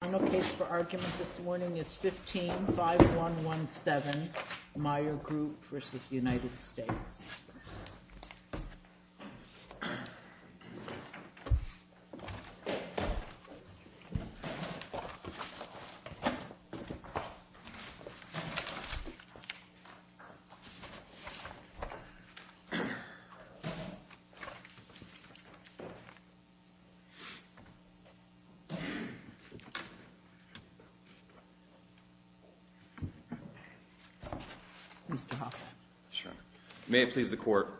The final case for argument this morning is 15-5117, Meyer Group v. United States. May it please the Court,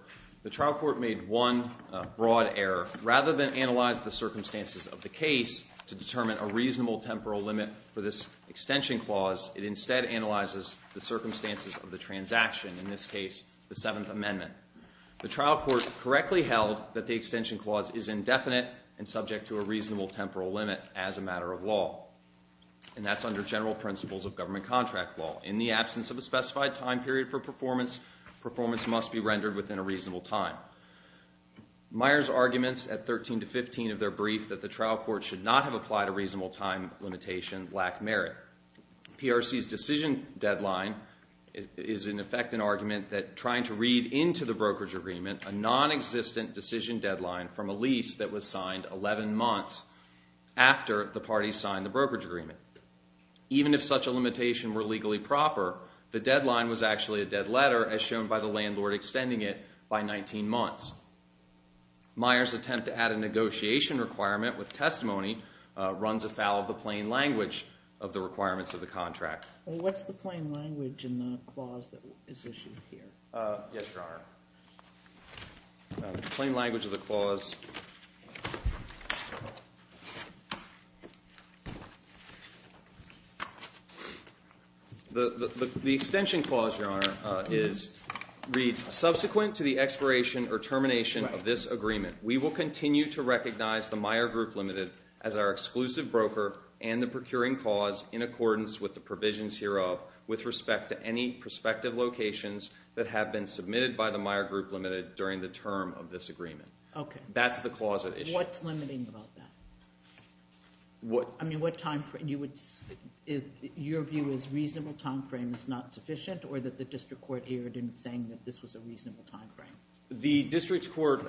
the trial court made one broad error. Rather than analyze the circumstances of the case to determine a reasonable temporal limit for this extension clause, it instead analyzes the circumstances of the transaction, in this case the Seventh Amendment. The trial court correctly held that the extension clause is indefinite and subject to a reasonable temporal limit as a matter of law, and that's under general principles of government contract law. In the absence of a specified time period for performance, performance must be rendered within a reasonable time. Meyer's arguments at 13-15 of their brief that the trial court should not have applied a reasonable time limitation lack merit. PRC's decision deadline is in effect an argument that trying to read into the brokerage agreement a non-existent decision deadline from a lease that was signed 11 months after the parties signed the brokerage agreement. Even if such a limitation were legally proper, the deadline was actually a dead letter as shown by the landlord extending it by 19 months. Meyer's attempt to add a negotiation requirement with testimony runs afoul of the plain language of the requirements of the contract. What's the plain language in the clause that is issued here? Yes, Your Honor. Plain language of the clause. The extension clause, Your Honor, reads, subsequent to the expiration or termination of this agreement, we will continue to recognize the Meyer Group Limited as our exclusive broker and the procuring cause in accordance with the provisions hereof with respect to any prospective locations that have been submitted by the Meyer Group Limited during the term of this agreement. Okay. That's the clause that is issued. What's limiting about that? I mean, what time frame? Your view is reasonable time frame is not sufficient or that the district court erred in saying that this was a reasonable time frame? The district court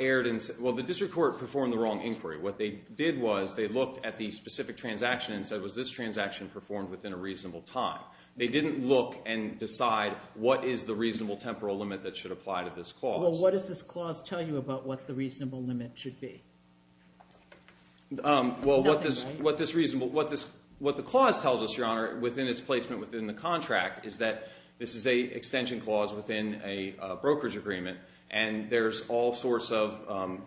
erred in, well, the district court performed the wrong inquiry. What they did was they looked at the specific transaction and said, was this transaction performed within a reasonable time? They didn't look and decide what is the reasonable temporal limit that should apply to this clause. Well, what does this clause tell you about what the reasonable limit should be? Nothing. Well, what this reasonable, what the clause tells us, Your Honor, within its placement within the contract is that this is a extension clause within a brokerage agreement and there's all sorts of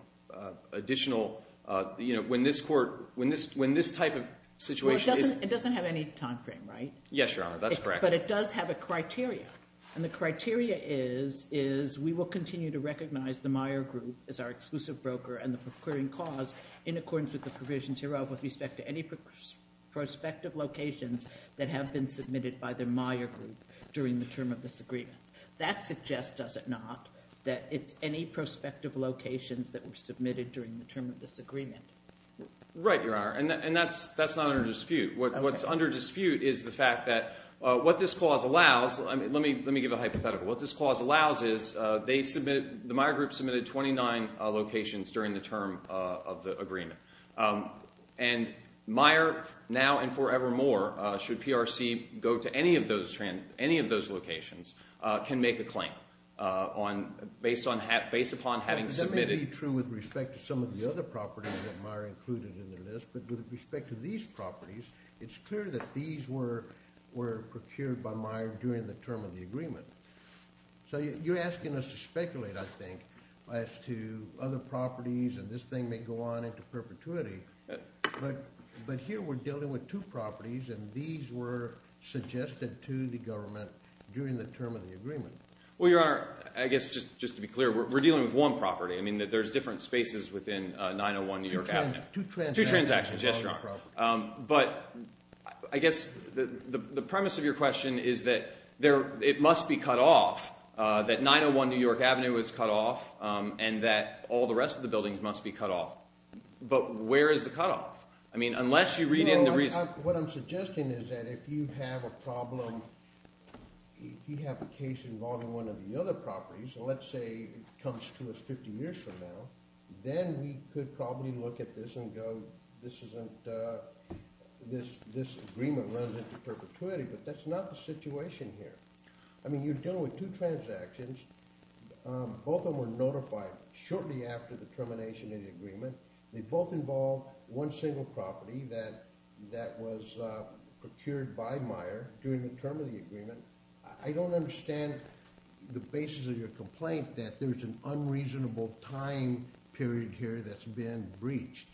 additional, uh, you know, when this court, when this, when this type of situation is, it doesn't have any time frame, right? Yes, Your Honor. That's correct. But it does have a criteria. And the criteria is, is we will continue to recognize the Meyer Group as our exclusive broker and the procuring cause in accordance with the provisions hereof with respect to any prospective locations that have been submitted by the Meyer Group during the term of this agreement. That suggests, does it not, that it's any prospective locations that were submitted during the term of this agreement? Right, Your Honor. And that's, that's not under dispute. What's under dispute is the fact that, uh, what this clause allows, let me, let me give a hypothetical. What this clause allows is, uh, they submitted, the Meyer Group submitted 29, uh, locations during the term, uh, of the agreement. Um, and Meyer now and forevermore, uh, should PRC go to any of those, any of those locations, uh, can make a claim, uh, on, based on, based upon having submitted. That may be true with respect to some of the other properties that Meyer included in the list. But with respect to these properties, it's clear that these were, were procured by Meyer during the term of the agreement. So you're asking us to speculate, I think, as to other properties and this thing may go on into perpetuity, but, but here we're dealing with two properties and these were procured during the term of the agreement. Well, Your Honor, I guess just, just to be clear, we're, we're dealing with one property. I mean, there's different spaces within, uh, 901 New York Avenue. Two transactions. Two transactions. Yes, Your Honor. Um, but I guess the, the premise of your question is that there, it must be cut off, uh, that 901 New York Avenue is cut off, um, and that all the rest of the buildings must be cut off. But where is the cutoff? I mean, unless you read in the reason. I mean, I, what I'm suggesting is that if you have a problem, if you have a case involving one of the other properties, and let's say it comes to us 50 years from now, then we could probably look at this and go, this isn't, uh, this, this agreement runs into perpetuity, but that's not the situation here. I mean, you're dealing with two transactions, um, both of them were notified shortly after the termination of the agreement. They both involve one single property that, that was, uh, procured by Meyer during the term of the agreement. I don't understand the basis of your complaint that there's an unreasonable time period here that's been breached.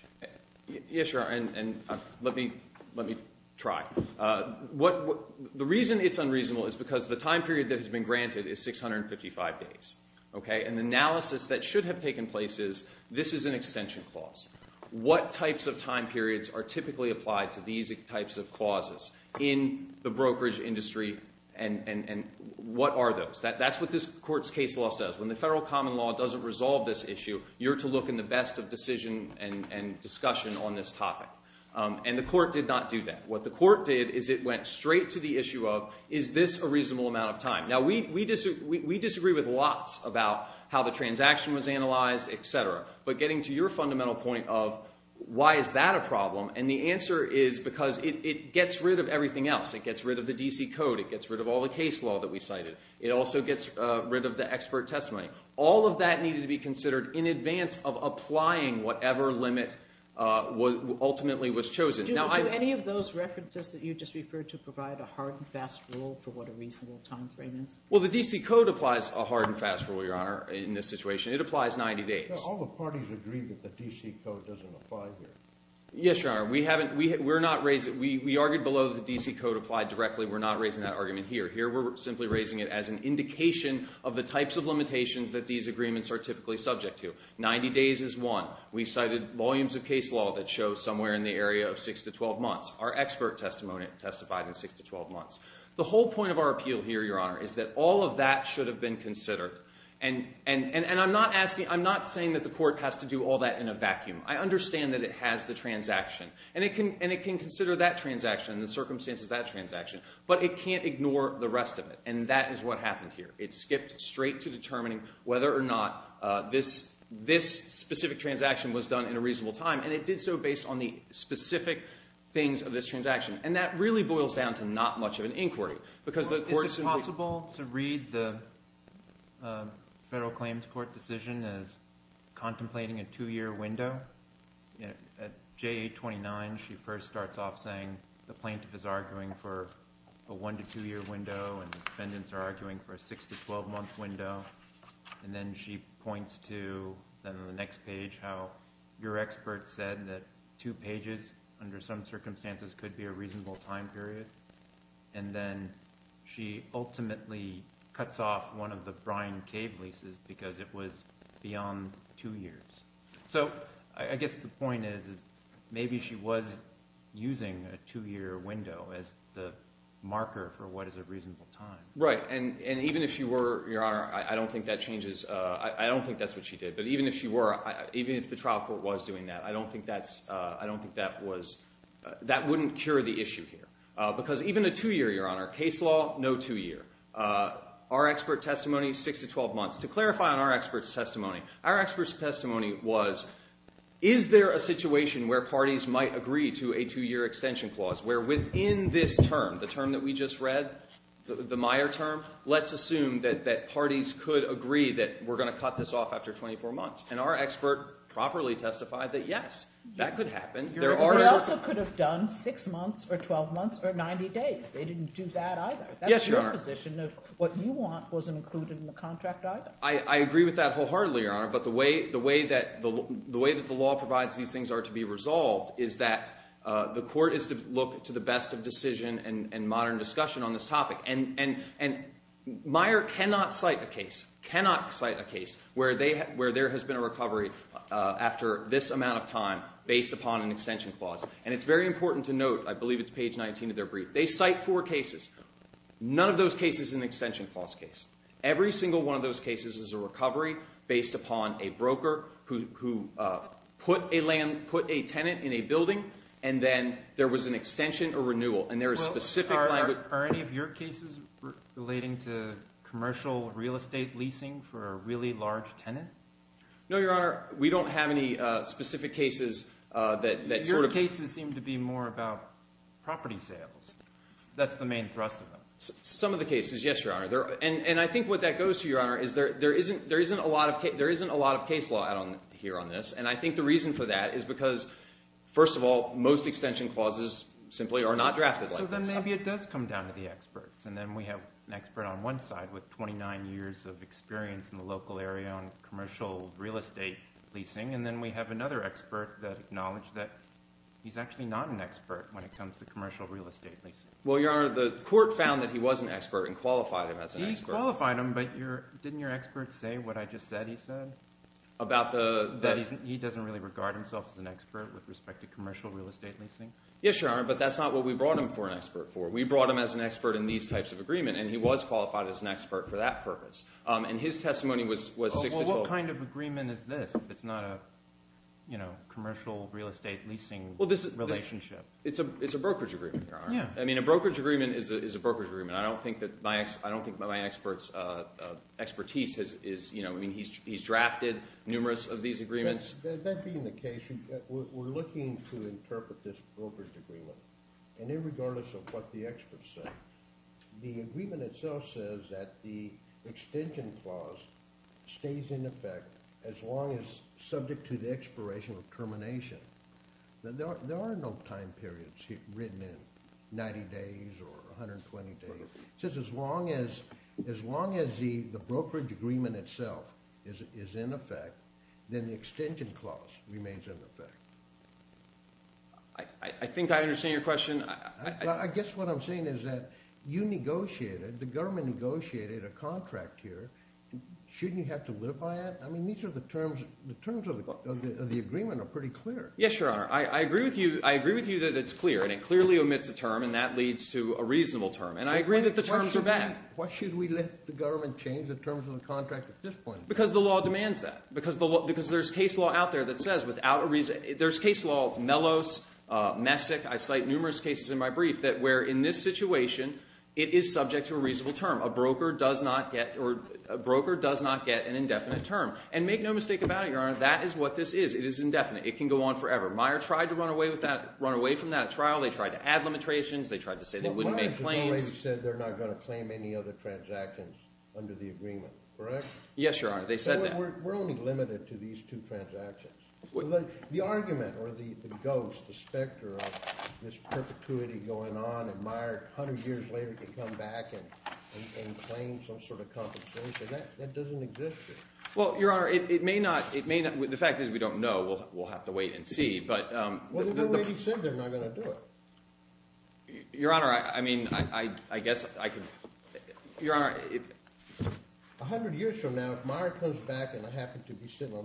Yes, Your Honor, and, and, uh, let me, let me try. Uh, what, what, the reason it's unreasonable is because the time period that has been granted is 655 days, okay, and the analysis that should have taken place is, this is an extension clause. What types of time periods are typically applied to these types of clauses in the brokerage industry and, and, and what are those? That's what this court's case law says. When the federal common law doesn't resolve this issue, you're to look in the best of decision and, and discussion on this topic, um, and the court did not do that. What the court did is it went straight to the issue of, is this a reasonable amount of time? Now, we, we disagree, we, we disagree with lots about how the transaction was analyzed, et cetera, but getting to your fundamental point of why is that a problem? And the answer is because it, it gets rid of everything else. It gets rid of the DC code, it gets rid of all the case law that we cited. It also gets, uh, rid of the expert testimony. All of that needs to be considered in advance of applying whatever limit, uh, was ultimately was chosen. Now, I... Do, do any of those references that you just referred to provide a hard and fast rule for what a reasonable time frame is? Well, the DC code applies a hard and fast rule, Your Honor, in this situation. It applies 90 days. Now, all the parties agreed that the DC code doesn't apply here. Yes, Your Honor. We haven't, we, we're not raising, we, we argued below that the DC code applied directly. We're not raising that argument here. Here we're simply raising it as an indication of the types of limitations that these agreements are typically subject to. 90 days is one. We cited volumes of case law that show somewhere in the area of 6 to 12 months. Our expert testimony testified in 6 to 12 months. The whole point of our appeal here, Your Honor, is that all of that should have been considered and, and, and I'm not asking, I'm not saying that the court has to do all that in a vacuum. I understand that it has the transaction and it can, and it can consider that transaction and the circumstances of that transaction, but it can't ignore the rest of it. And that is what happened here. It skipped straight to determining whether or not, uh, this, this specific transaction was done in a reasonable time. And it did so based on the specific things of this transaction. And that really boils down to not much of an inquiry because the court's... It's reasonable to read the, uh, federal claims court decision as contemplating a two-year window. You know, at J.A. 29, she first starts off saying the plaintiff is arguing for a one to two-year window and the defendants are arguing for a 6 to 12-month window. And then she points to, then on the next page, how your expert said that two pages under some circumstances could be a reasonable time period. And then she ultimately cuts off one of the Brian Cave leases because it was beyond two years. So, I guess the point is, is maybe she was using a two-year window as the marker for what is a reasonable time. Right. And, and even if she were, Your Honor, I don't think that changes, uh, I don't think that's what she did, but even if she were, even if the trial court was doing that, I don't think that's, uh, I don't think that was, uh, that wouldn't cure the issue here. Because even a two-year, Your Honor, case law, no two-year. Our expert testimony, 6 to 12 months. To clarify on our expert's testimony, our expert's testimony was, is there a situation where parties might agree to a two-year extension clause where within this term, the term that we just read, the Meyer term, let's assume that, that parties could agree that we're going to cut this off after 24 months. And our expert properly testified that, yes, that could happen. Your expert also could have done 6 months or 12 months or 90 days. They didn't do that either. Yes, Your Honor. That's your position of what you want wasn't included in the contract either. I, I agree with that wholeheartedly, Your Honor, but the way, the way that the, the way that the law provides these things are to be resolved is that, uh, the court is to look to the best of decision and, and modern discussion on this topic and, and, and Meyer cannot cite a case, cannot cite a case where they, where there has been a recovery, uh, after this amount of time based upon an extension clause. And it's very important to note, I believe it's page 19 of their brief, they cite 4 cases. None of those cases is an extension clause case. Every single one of those cases is a recovery based upon a broker who, who, uh, put a land, put a tenant in a building and then there was an extension or renewal. And there is specific language. Well, are, are any of your cases relating to commercial real estate leasing for a really large tenant? No, Your Honor. We don't have any, uh, specific cases, uh, that, that sort of... Your cases seem to be more about property sales. That's the main thrust of them. Some of the cases, yes, Your Honor. There are, and, and I think what that goes to, Your Honor, is there, there isn't, there isn't a lot of case, there isn't a lot of case law out on, here on this. And I think the reason for that is because, first of all, most extension clauses simply are not drafted like this. So then maybe it does come down to the experts. And then we have an expert on one side with 29 years of experience in the local area on commercial real estate leasing. And then we have another expert that acknowledged that he's actually not an expert when it comes to commercial real estate leasing. Well, Your Honor, the court found that he was an expert and qualified him as an expert. He qualified him, but your, didn't your expert say what I just said he said? About the... That he doesn't really regard himself as an expert with respect to commercial real estate leasing? Yes, Your Honor. But that's not what we brought him for an expert for. We brought him as an expert in these types of agreement and he was qualified as an expert for that purpose. And his testimony was 6-12. Well, what kind of agreement is this if it's not a, you know, commercial real estate leasing relationship? Well, this is, it's a brokerage agreement, Your Honor. Yeah. I mean, a brokerage agreement is a brokerage agreement. I don't think that my, I don't think my expert's expertise is, you know, I mean, he's drafted numerous of these agreements. That being the case, we're looking to interpret this brokerage agreement. And in regard to what the experts say, the agreement itself says that the extension clause stays in effect as long as subject to the expiration of termination. There are no time periods written in, 90 days or 120 days, just as long as, as long as the brokerage agreement itself is in effect, then the extension clause remains in effect. I, I think I understand your question. Well, I guess what I'm saying is that you negotiated, the government negotiated a contract here. Shouldn't you have to live by it? I mean, these are the terms, the terms of the agreement are pretty clear. Yes, Your Honor. I agree with you. I agree with you that it's clear and it clearly omits a term and that leads to a reasonable term. And I agree that the terms are bad. Why should we let the government change the terms of the contract at this point? Because the law demands that. Because the law, because there's case law out there that says without a reason, there's case law of Mellos, Messick, I cite numerous cases in my brief that where in this situation, it is subject to a reasonable term. A broker does not get, or a broker does not get an indefinite term. And make no mistake about it, Your Honor, that is what this is. It is indefinite. It can go on forever. Meyer tried to run away with that, run away from that at trial. They tried to add limitations. They tried to say they wouldn't make claims. Well, Meyer said they're not going to claim any other transactions under the agreement, correct? Yes, Your Honor. They said that. We're only limited to these two transactions. The argument, or the ghost, the specter of this perpetuity going on, and Meyer 100 years later can come back and claim some sort of compensation, that doesn't exist here. Well, Your Honor, it may not. The fact is, we don't know. We'll have to wait and see. Well, they already said they're not going to do it. Your Honor, I mean, I guess I could... It would be the same thing. It would be the same thing. It would be the same thing. It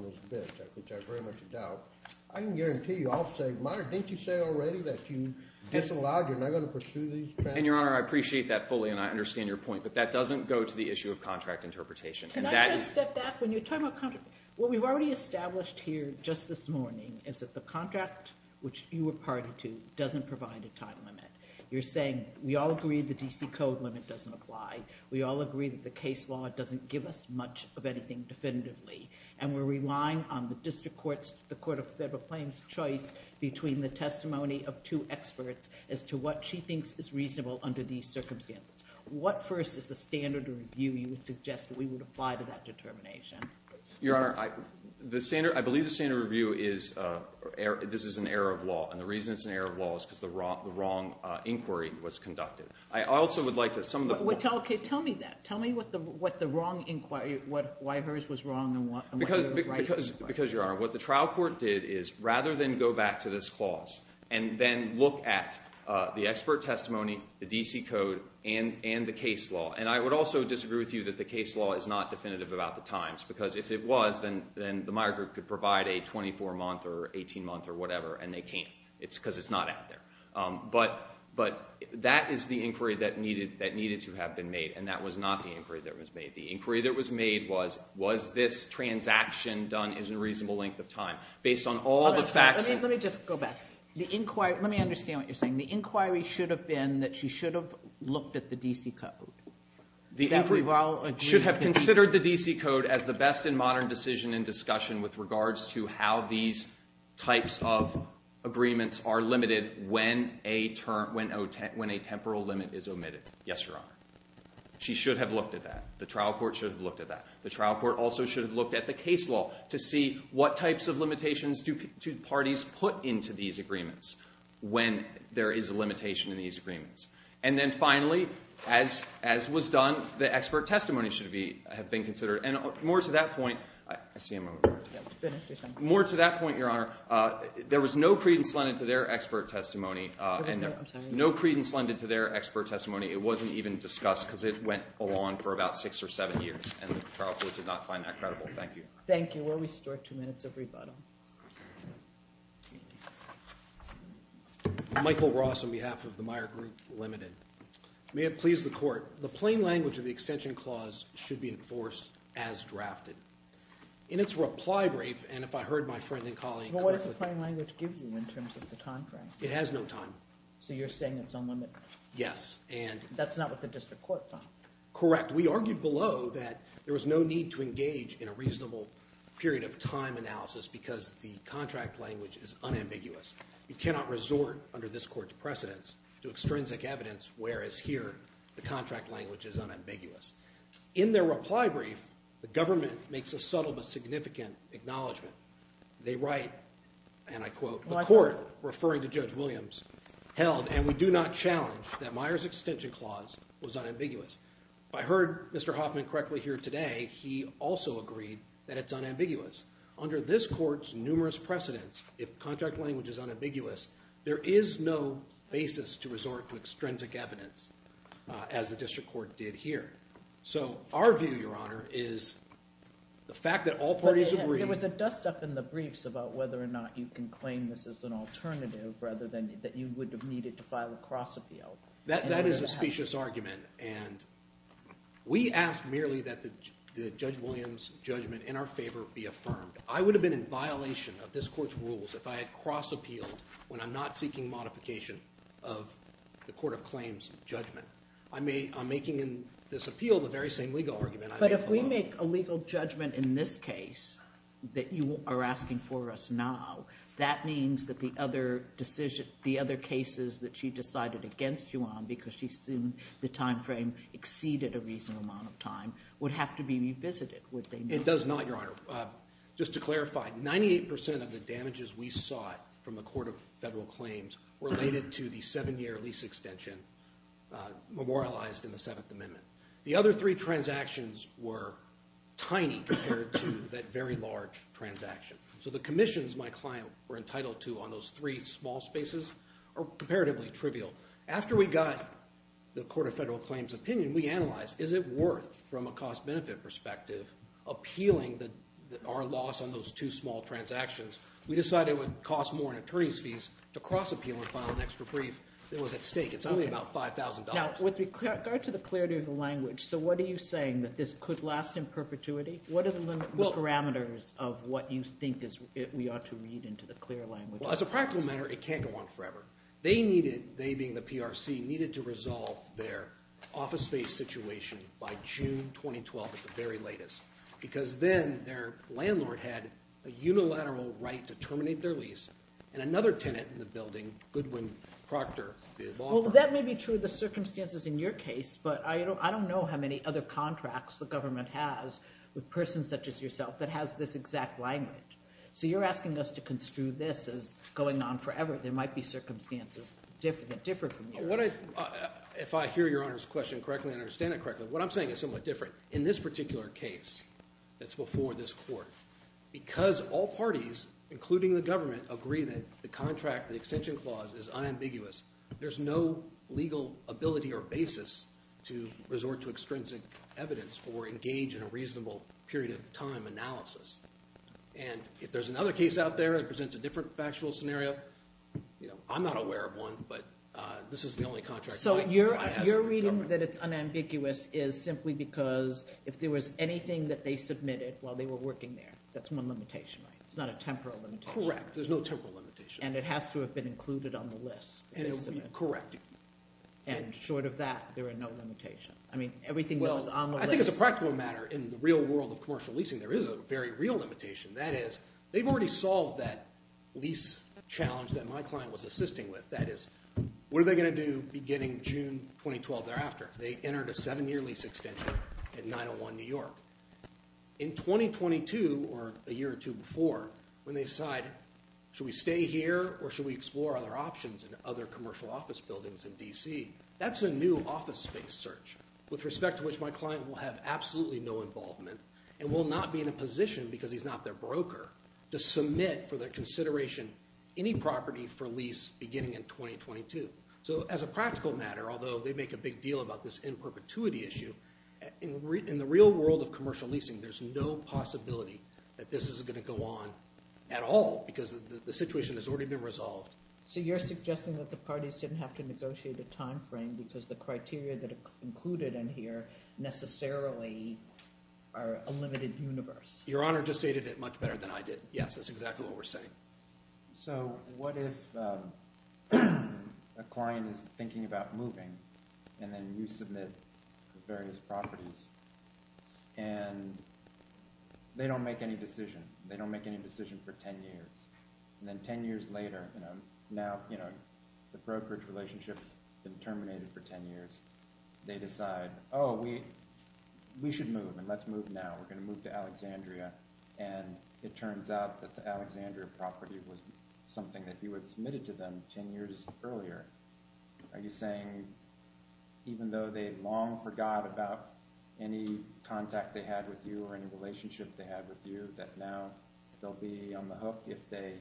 would be the same thing. I can guarantee you, I'll say, Meyer, didn't you say already that you disallowed, you're not going to pursue these transactions? And, Your Honor, I appreciate that fully, and I understand your point, but that doesn't go to the issue of contract interpretation. Can I just step back? When you're talking about contract... What we've already established here, just this morning, is that the contract which you were party to doesn't provide a time limit. You're saying, we all agree the D.C. Code limit doesn't apply. We all agree that the D.C. Code doesn't apply. And that's what the California Court of Federal Claims has ruled definitively. And we're relying on the District Court's, the Court of Federal Claims' choice between the testimony of two experts, as to what she thinks is reasonable under these circumstances. What first is the standard or review you would suggest that we would apply to that determination? Your Honor, I believe the standard review is, this is an error of law, and the reason it's an error of law is because the wrong inquiry was conducted. Tell me that. I don't think the court is going to be able to apply it. Because, Your Honor, what the trial court did is, rather than go back to this clause, and then look at the expert testimony, the D.C. Code, and the case law, and I would also disagree with you that the case law is not definitive about the times, because if it was, then the Meyer Group could provide a 24-month or 18-month or whatever, and they can't, because it's not out there. But that is the inquiry that needed to have been made, and that was not the inquiry that was made. The inquiry that was made was, was this transaction done in a reasonable length of time, based on all the facts. Let me just go back. The inquiry, let me understand what you're saying. The inquiry should have been that she should have looked at the D.C. Code. The inquiry should have considered the D.C. Code as the best in modern decision and discussion with regards to how these types of agreements are limited when a temporal limit is omitted. Yes, Your Honor. She should have looked at that. The trial court should have looked at that. The trial court also should have looked at the case law to see what types of limitations do parties put into these agreements when there is a limitation in these agreements. And then finally, as was done, the expert testimony should have been considered. And more to that point, I see a moment. More to that point, Your Honor, there was no credence lended to their expert testimony. I'm sorry. No credence lended to their expert testimony. It wasn't even discussed because it went along for about six or seven years. And the trial court did not find that credible. Thank you. Thank you. We'll restore two minutes of rebuttal. Michael Ross on behalf of the Meyer Group Limited. May it please the Court. The plain language of the extension clause should be enforced as drafted. In its reply brief, and if I heard my friend and colleague correctly. Well, what does the plain language give you in terms of the time frame? It has no time. So you're saying it's unlimited? Yes. That's not what the district court found. Correct. We argued below that there was no need to engage in a reasonable period of time analysis because the contract language is unambiguous. You cannot resort under this Court's precedence to extrinsic evidence whereas here the contract language is unambiguous. In their reply brief, the government makes a subtle but significant acknowledgement. They write, and I quote, the Court, referring to Judge Williams, held and we do not challenge that Meyer's extension clause was unambiguous. If I heard Mr. Hoffman correctly here today, he also agreed that it's unambiguous. Under this Court's numerous precedence, if the contract language is unambiguous, there is no basis to resort to extrinsic evidence as the district court did here. So our view, Your Honor, is the fact that all parties agree. There was a dust-up in the briefs about whether or not you can claim this as an alternative rather than that you would have needed to file a cross-appeal. That is a specious argument, and we ask merely that Judge Williams' judgment in our favor be affirmed. I would have been in violation of this Court's rules if I had cross-appealed when I'm not seeking modification of the court of claims judgment. I'm making in this appeal the very same legal argument I made in the law. But if we make a legal judgment in this case that you are asking for us now, that means that the other cases that she decided against you on, because she assumed the time frame exceeded a reasonable amount of time, would have to be revisited, would they not? It does not, Your Honor. Just to clarify, 98% of the damages we sought from the court of federal claims related to the seven-year lease extension memorialized in the Seventh Amendment. The other three transactions were tiny compared to that very large transaction. So the commissions my client were entitled to on those three small spaces are comparatively trivial. After we got the court of federal claims opinion, we analyzed, is it worth, from a cost-benefit perspective, appealing our loss on those two small transactions? We decided it would cost more in attorney's fees to cross-appeal and file an extra brief that was at stake. It's only about $5,000. Now, with regard to the clarity of the language, so what are you saying? That this could last in perpetuity? What are the parameters of what you think we ought to read into the clear language? Well, as a practical matter, it can't go on forever. They needed, they being the PRC, needed to resolve their office space situation by June 2012 at the very latest because then their landlord had a unilateral right to terminate their lease and another tenant in the building, Goodwin Proctor, the law firm. Well, that may be true of the circumstances in your case, but I don't know how many other contracts the government has with persons such as yourself that has this exact language. So you're asking us to construe this as going on forever. There might be circumstances that differ from yours. If I hear Your Honor's question correctly and understand it correctly, what I'm saying is somewhat different. In this particular case that's before this court, because all parties, including the government, agree that the contract, the extension clause, is unambiguous, there's no legal ability or basis to resort to extrinsic evidence or engage in a reasonable period of time analysis. And if there's another case out there that presents a different factual scenario, I'm not aware of one, but this is the only contract that I have with the government. So your reading that it's unambiguous is simply because if there was anything that they submitted while they were working there, that's one limitation, right? It's not a temporal limitation. Correct. There's no temporal limitation. And it has to have been included on the list. And it will be corrected. And short of that, there are no limitations. I mean, everything goes on the list. Well, I think it's a practical matter. In the real world of commercial leasing, there is a very real limitation. That is, they've already solved that lease challenge that my client was assisting with. That is, what are they going to do beginning June 2012 thereafter? They entered a seven-year lease extension in 901 New York. In 2022, or a year or two before, when they decide, should we stay here, or should we explore other options in other commercial office buildings in D.C., that's a new office space search with respect to which my client will have absolutely no involvement and will not be in a position because he's not their broker to submit for their consideration any property for lease beginning in 2022. So as a practical matter, although they make a big deal about this end perpetuity issue, in the real world of commercial leasing, there's no possibility that this is going to go on at all because the situation has already been resolved. So you're suggesting that the parties didn't have to negotiate a timeframe because the criteria that are included in here necessarily are a limited universe. Your Honor just stated it much better than I did. Yes, that's exactly what we're saying. So what if a client is thinking about moving, and then you submit various properties, and they don't make any decision. They don't make any decision for ten years. And then ten years later, now the brokerage relationship has been terminated for ten years. They decide, oh, we should move, and let's move now. We're going to move to Alexandria. And it turns out that the Alexandria property was something that you had submitted to them ten years earlier. Are you saying even though they long forgot about any contact they had with you or any relationship they had with you, that now they'll be on the hook if they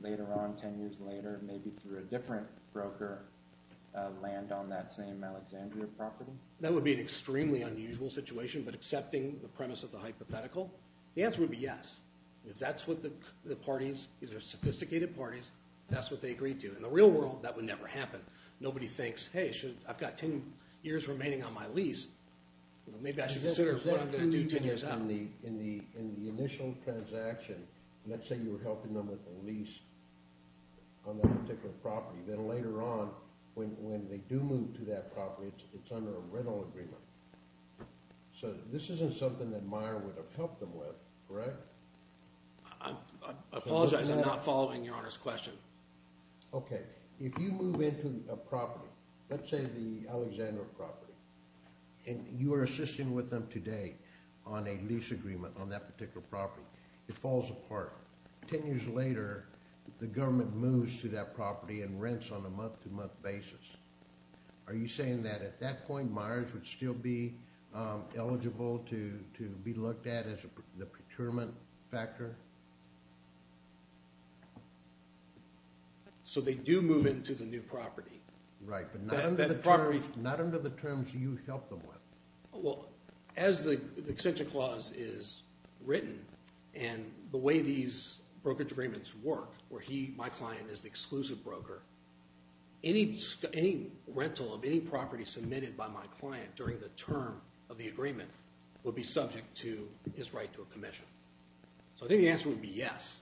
later on, ten years later, maybe through a different broker, land on that same Alexandria property? That would be an extremely unusual situation, but accepting the premise of the hypothetical. The answer would be yes. That's what the parties, these are sophisticated parties. That's what they agreed to. In the real world, that would never happen. Nobody thinks, hey, I've got ten years remaining on my lease. Maybe I should consider what I'm going to do ten years out. In the initial transaction, let's say you were helping them with the lease on that particular property. Then later on, when they do move to that property, it's under a rental agreement. So this isn't something that Meyer would have helped them with, correct? I apologize. I'm not following Your Honor's question. Okay. If you move into a property, let's say the Alexandria property, and you are assisting with them today on a lease agreement on that particular property, it falls apart. Ten years later, the government moves to that property and rents on a month-to-month basis. Are you saying that at that point, Meyers would still be eligible to be looked at as the procurement factor? So they do move into the new property. Right, but not under the terms you helped them with. Well, as the extension clause is written and the way these brokerage agreements work, where he, my client, is the exclusive broker, any rental of any property submitted by my client during the term of the agreement would be subject to his right to a commission. So I think the answer would be yes.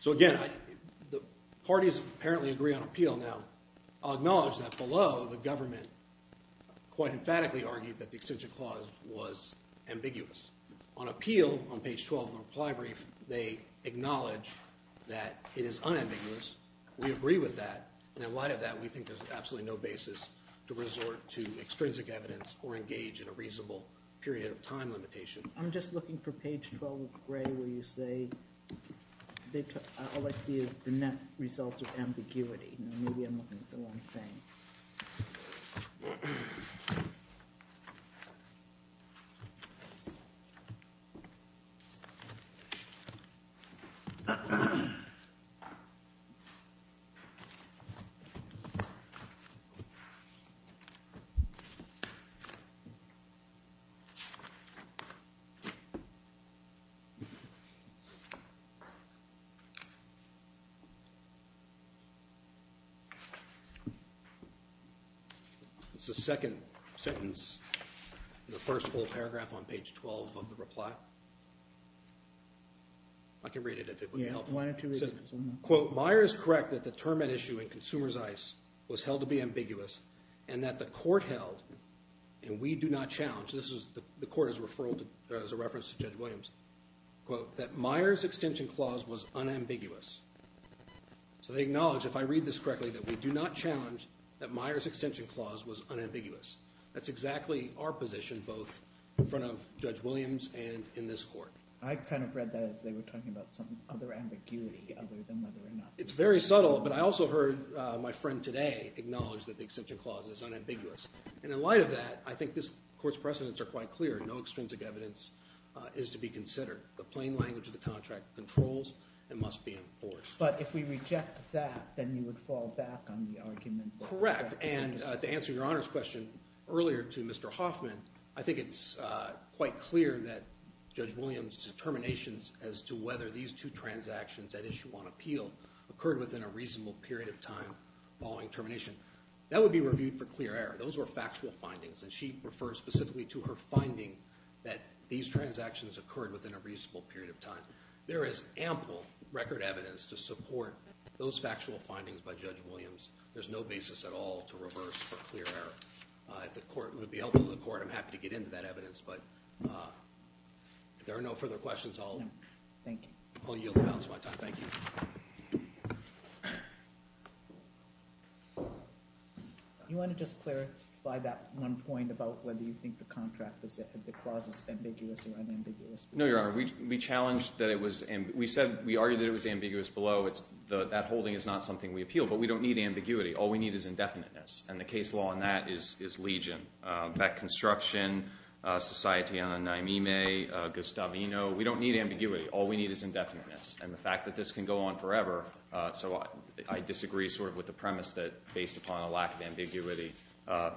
So again, the parties apparently agree on appeal. I'll acknowledge that below, the government quite emphatically argued that the extension clause was ambiguous. On appeal, on page 12 of the reply brief, they acknowledge that it is unambiguous. We agree with that, and in light of that, we think there's absolutely no basis to resort to extrinsic evidence or engage in a reasonable period of time limitation. I'm just looking for page 12, gray, where you say, all I see is the net result of ambiguity. Maybe I'm looking at the wrong thing. It's the second sentence in the first full paragraph on page 12 of the reply. I can read it if it would help. Yeah, why don't you read it? Quote, Meyer is correct that the term at issue in Consumer's ICE was held to be ambiguous and that the court held, and we do not challenge, this is the court's referral as a reference to Judge Williams, quote, that Meyer's extension clause was unambiguous. So they acknowledge, if I read this correctly, that we do not challenge that Meyer's extension clause was unambiguous. That's exactly our position, both in front of Judge Williams and in this court. I kind of read that as they were talking about some other ambiguity, other than whether or not. It's very subtle, but I also heard my friend today acknowledge that the extension clause is unambiguous. And in light of that, I think this court's precedents are quite clear. No extrinsic evidence is to be considered. The plain language of the contract controls and must be enforced. But if we reject that, then you would fall back on the argument. Correct, and to answer your Honor's question earlier to Mr. Hoffman, I think it's quite clear that Judge Williams' determinations as to whether these two transactions at issue on appeal occurred within a reasonable period of time following termination, that would be reviewed for clear error. Those were factual findings, and she referred specifically to her finding that these transactions occurred within a reasonable period of time. There is ample record evidence to support those factual findings by Judge Williams. There's no basis at all to reverse for clear error. If the court would be helpful to the court, I'm happy to get into that evidence. But if there are no further questions, I'll yield the balance of my time. Thank you. You want to just clarify that one point about whether you think the contract is that the clause is ambiguous or unambiguous? No, Your Honor. We challenged that it was ambiguous. We argued that it was ambiguous below. That holding is not something we appeal, but we don't need ambiguity. All we need is indefiniteness, and the case law on that is legion. Beck Construction, Societe Annae Mime, Gustavino, we don't need ambiguity. All we need is indefiniteness. And the fact that this can go on forever, so I disagree sort of with the premise that based upon a lack of ambiguity,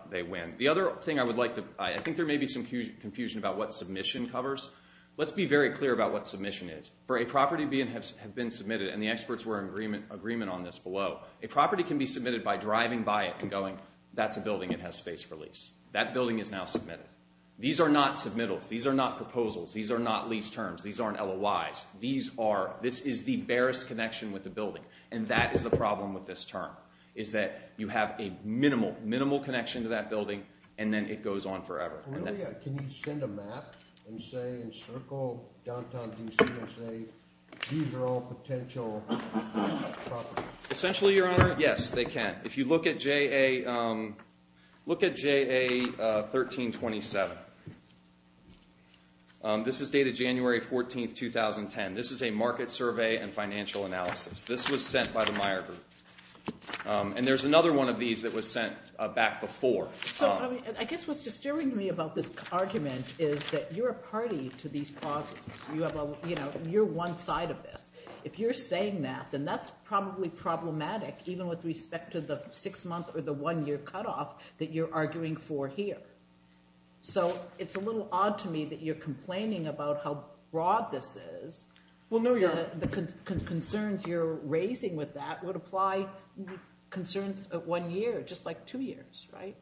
they win. The other thing I would like to, I think there may be some confusion about what submission covers. Let's be very clear about what submission is. For a property to have been submitted, and the experts were in agreement on this below, a property can be submitted by driving by it and going, that's a building that has space for lease. That building is now submitted. These are not submittals. These are not proposals. These are not lease terms. These aren't LOIs. These are, this is the barest connection with the building, and that is the problem with this term, is that you have a minimal, minimal connection to that building, and then it goes on forever. Can you send a map and say in circle downtown D.C. and say these are all potential properties? Essentially, Your Honor, yes, they can. If you look at JA 1327, this is dated January 14, 2010. This is a market survey and financial analysis. This was sent by the Meyer Group, and there's another one of these that was sent back before. I guess what's disturbing to me about this argument is that you're a party to these clauses. You're one side of this. If you're saying that, then that's probably problematic, even with respect to the six-month or the one-year cutoff that you're arguing for here. So it's a little odd to me that you're complaining about how broad this is. Well, no, Your Honor. The concerns you're raising with that would apply concerns at one year, just like two years, right?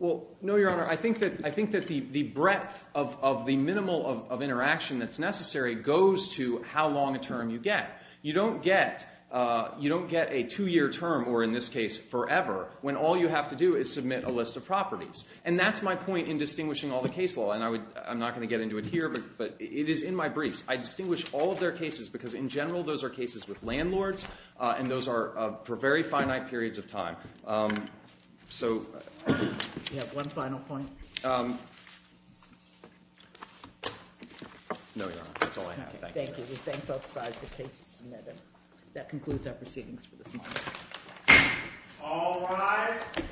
Well, no, Your Honor. I think that the breadth of the minimal of interaction that's necessary goes to how long a term you get. You don't get a two-year term, or in this case forever, when all you have to do is submit a list of properties, and that's my point in distinguishing all the case law. And I'm not going to get into it here, but it is in my briefs. I distinguish all of their cases because, in general, those are cases with landlords, and those are for very finite periods of time. So— Do you have one final point? No, Your Honor. That's all I have. Thank you. We thank both sides for cases submitted. That concludes our proceedings for this morning. All rise.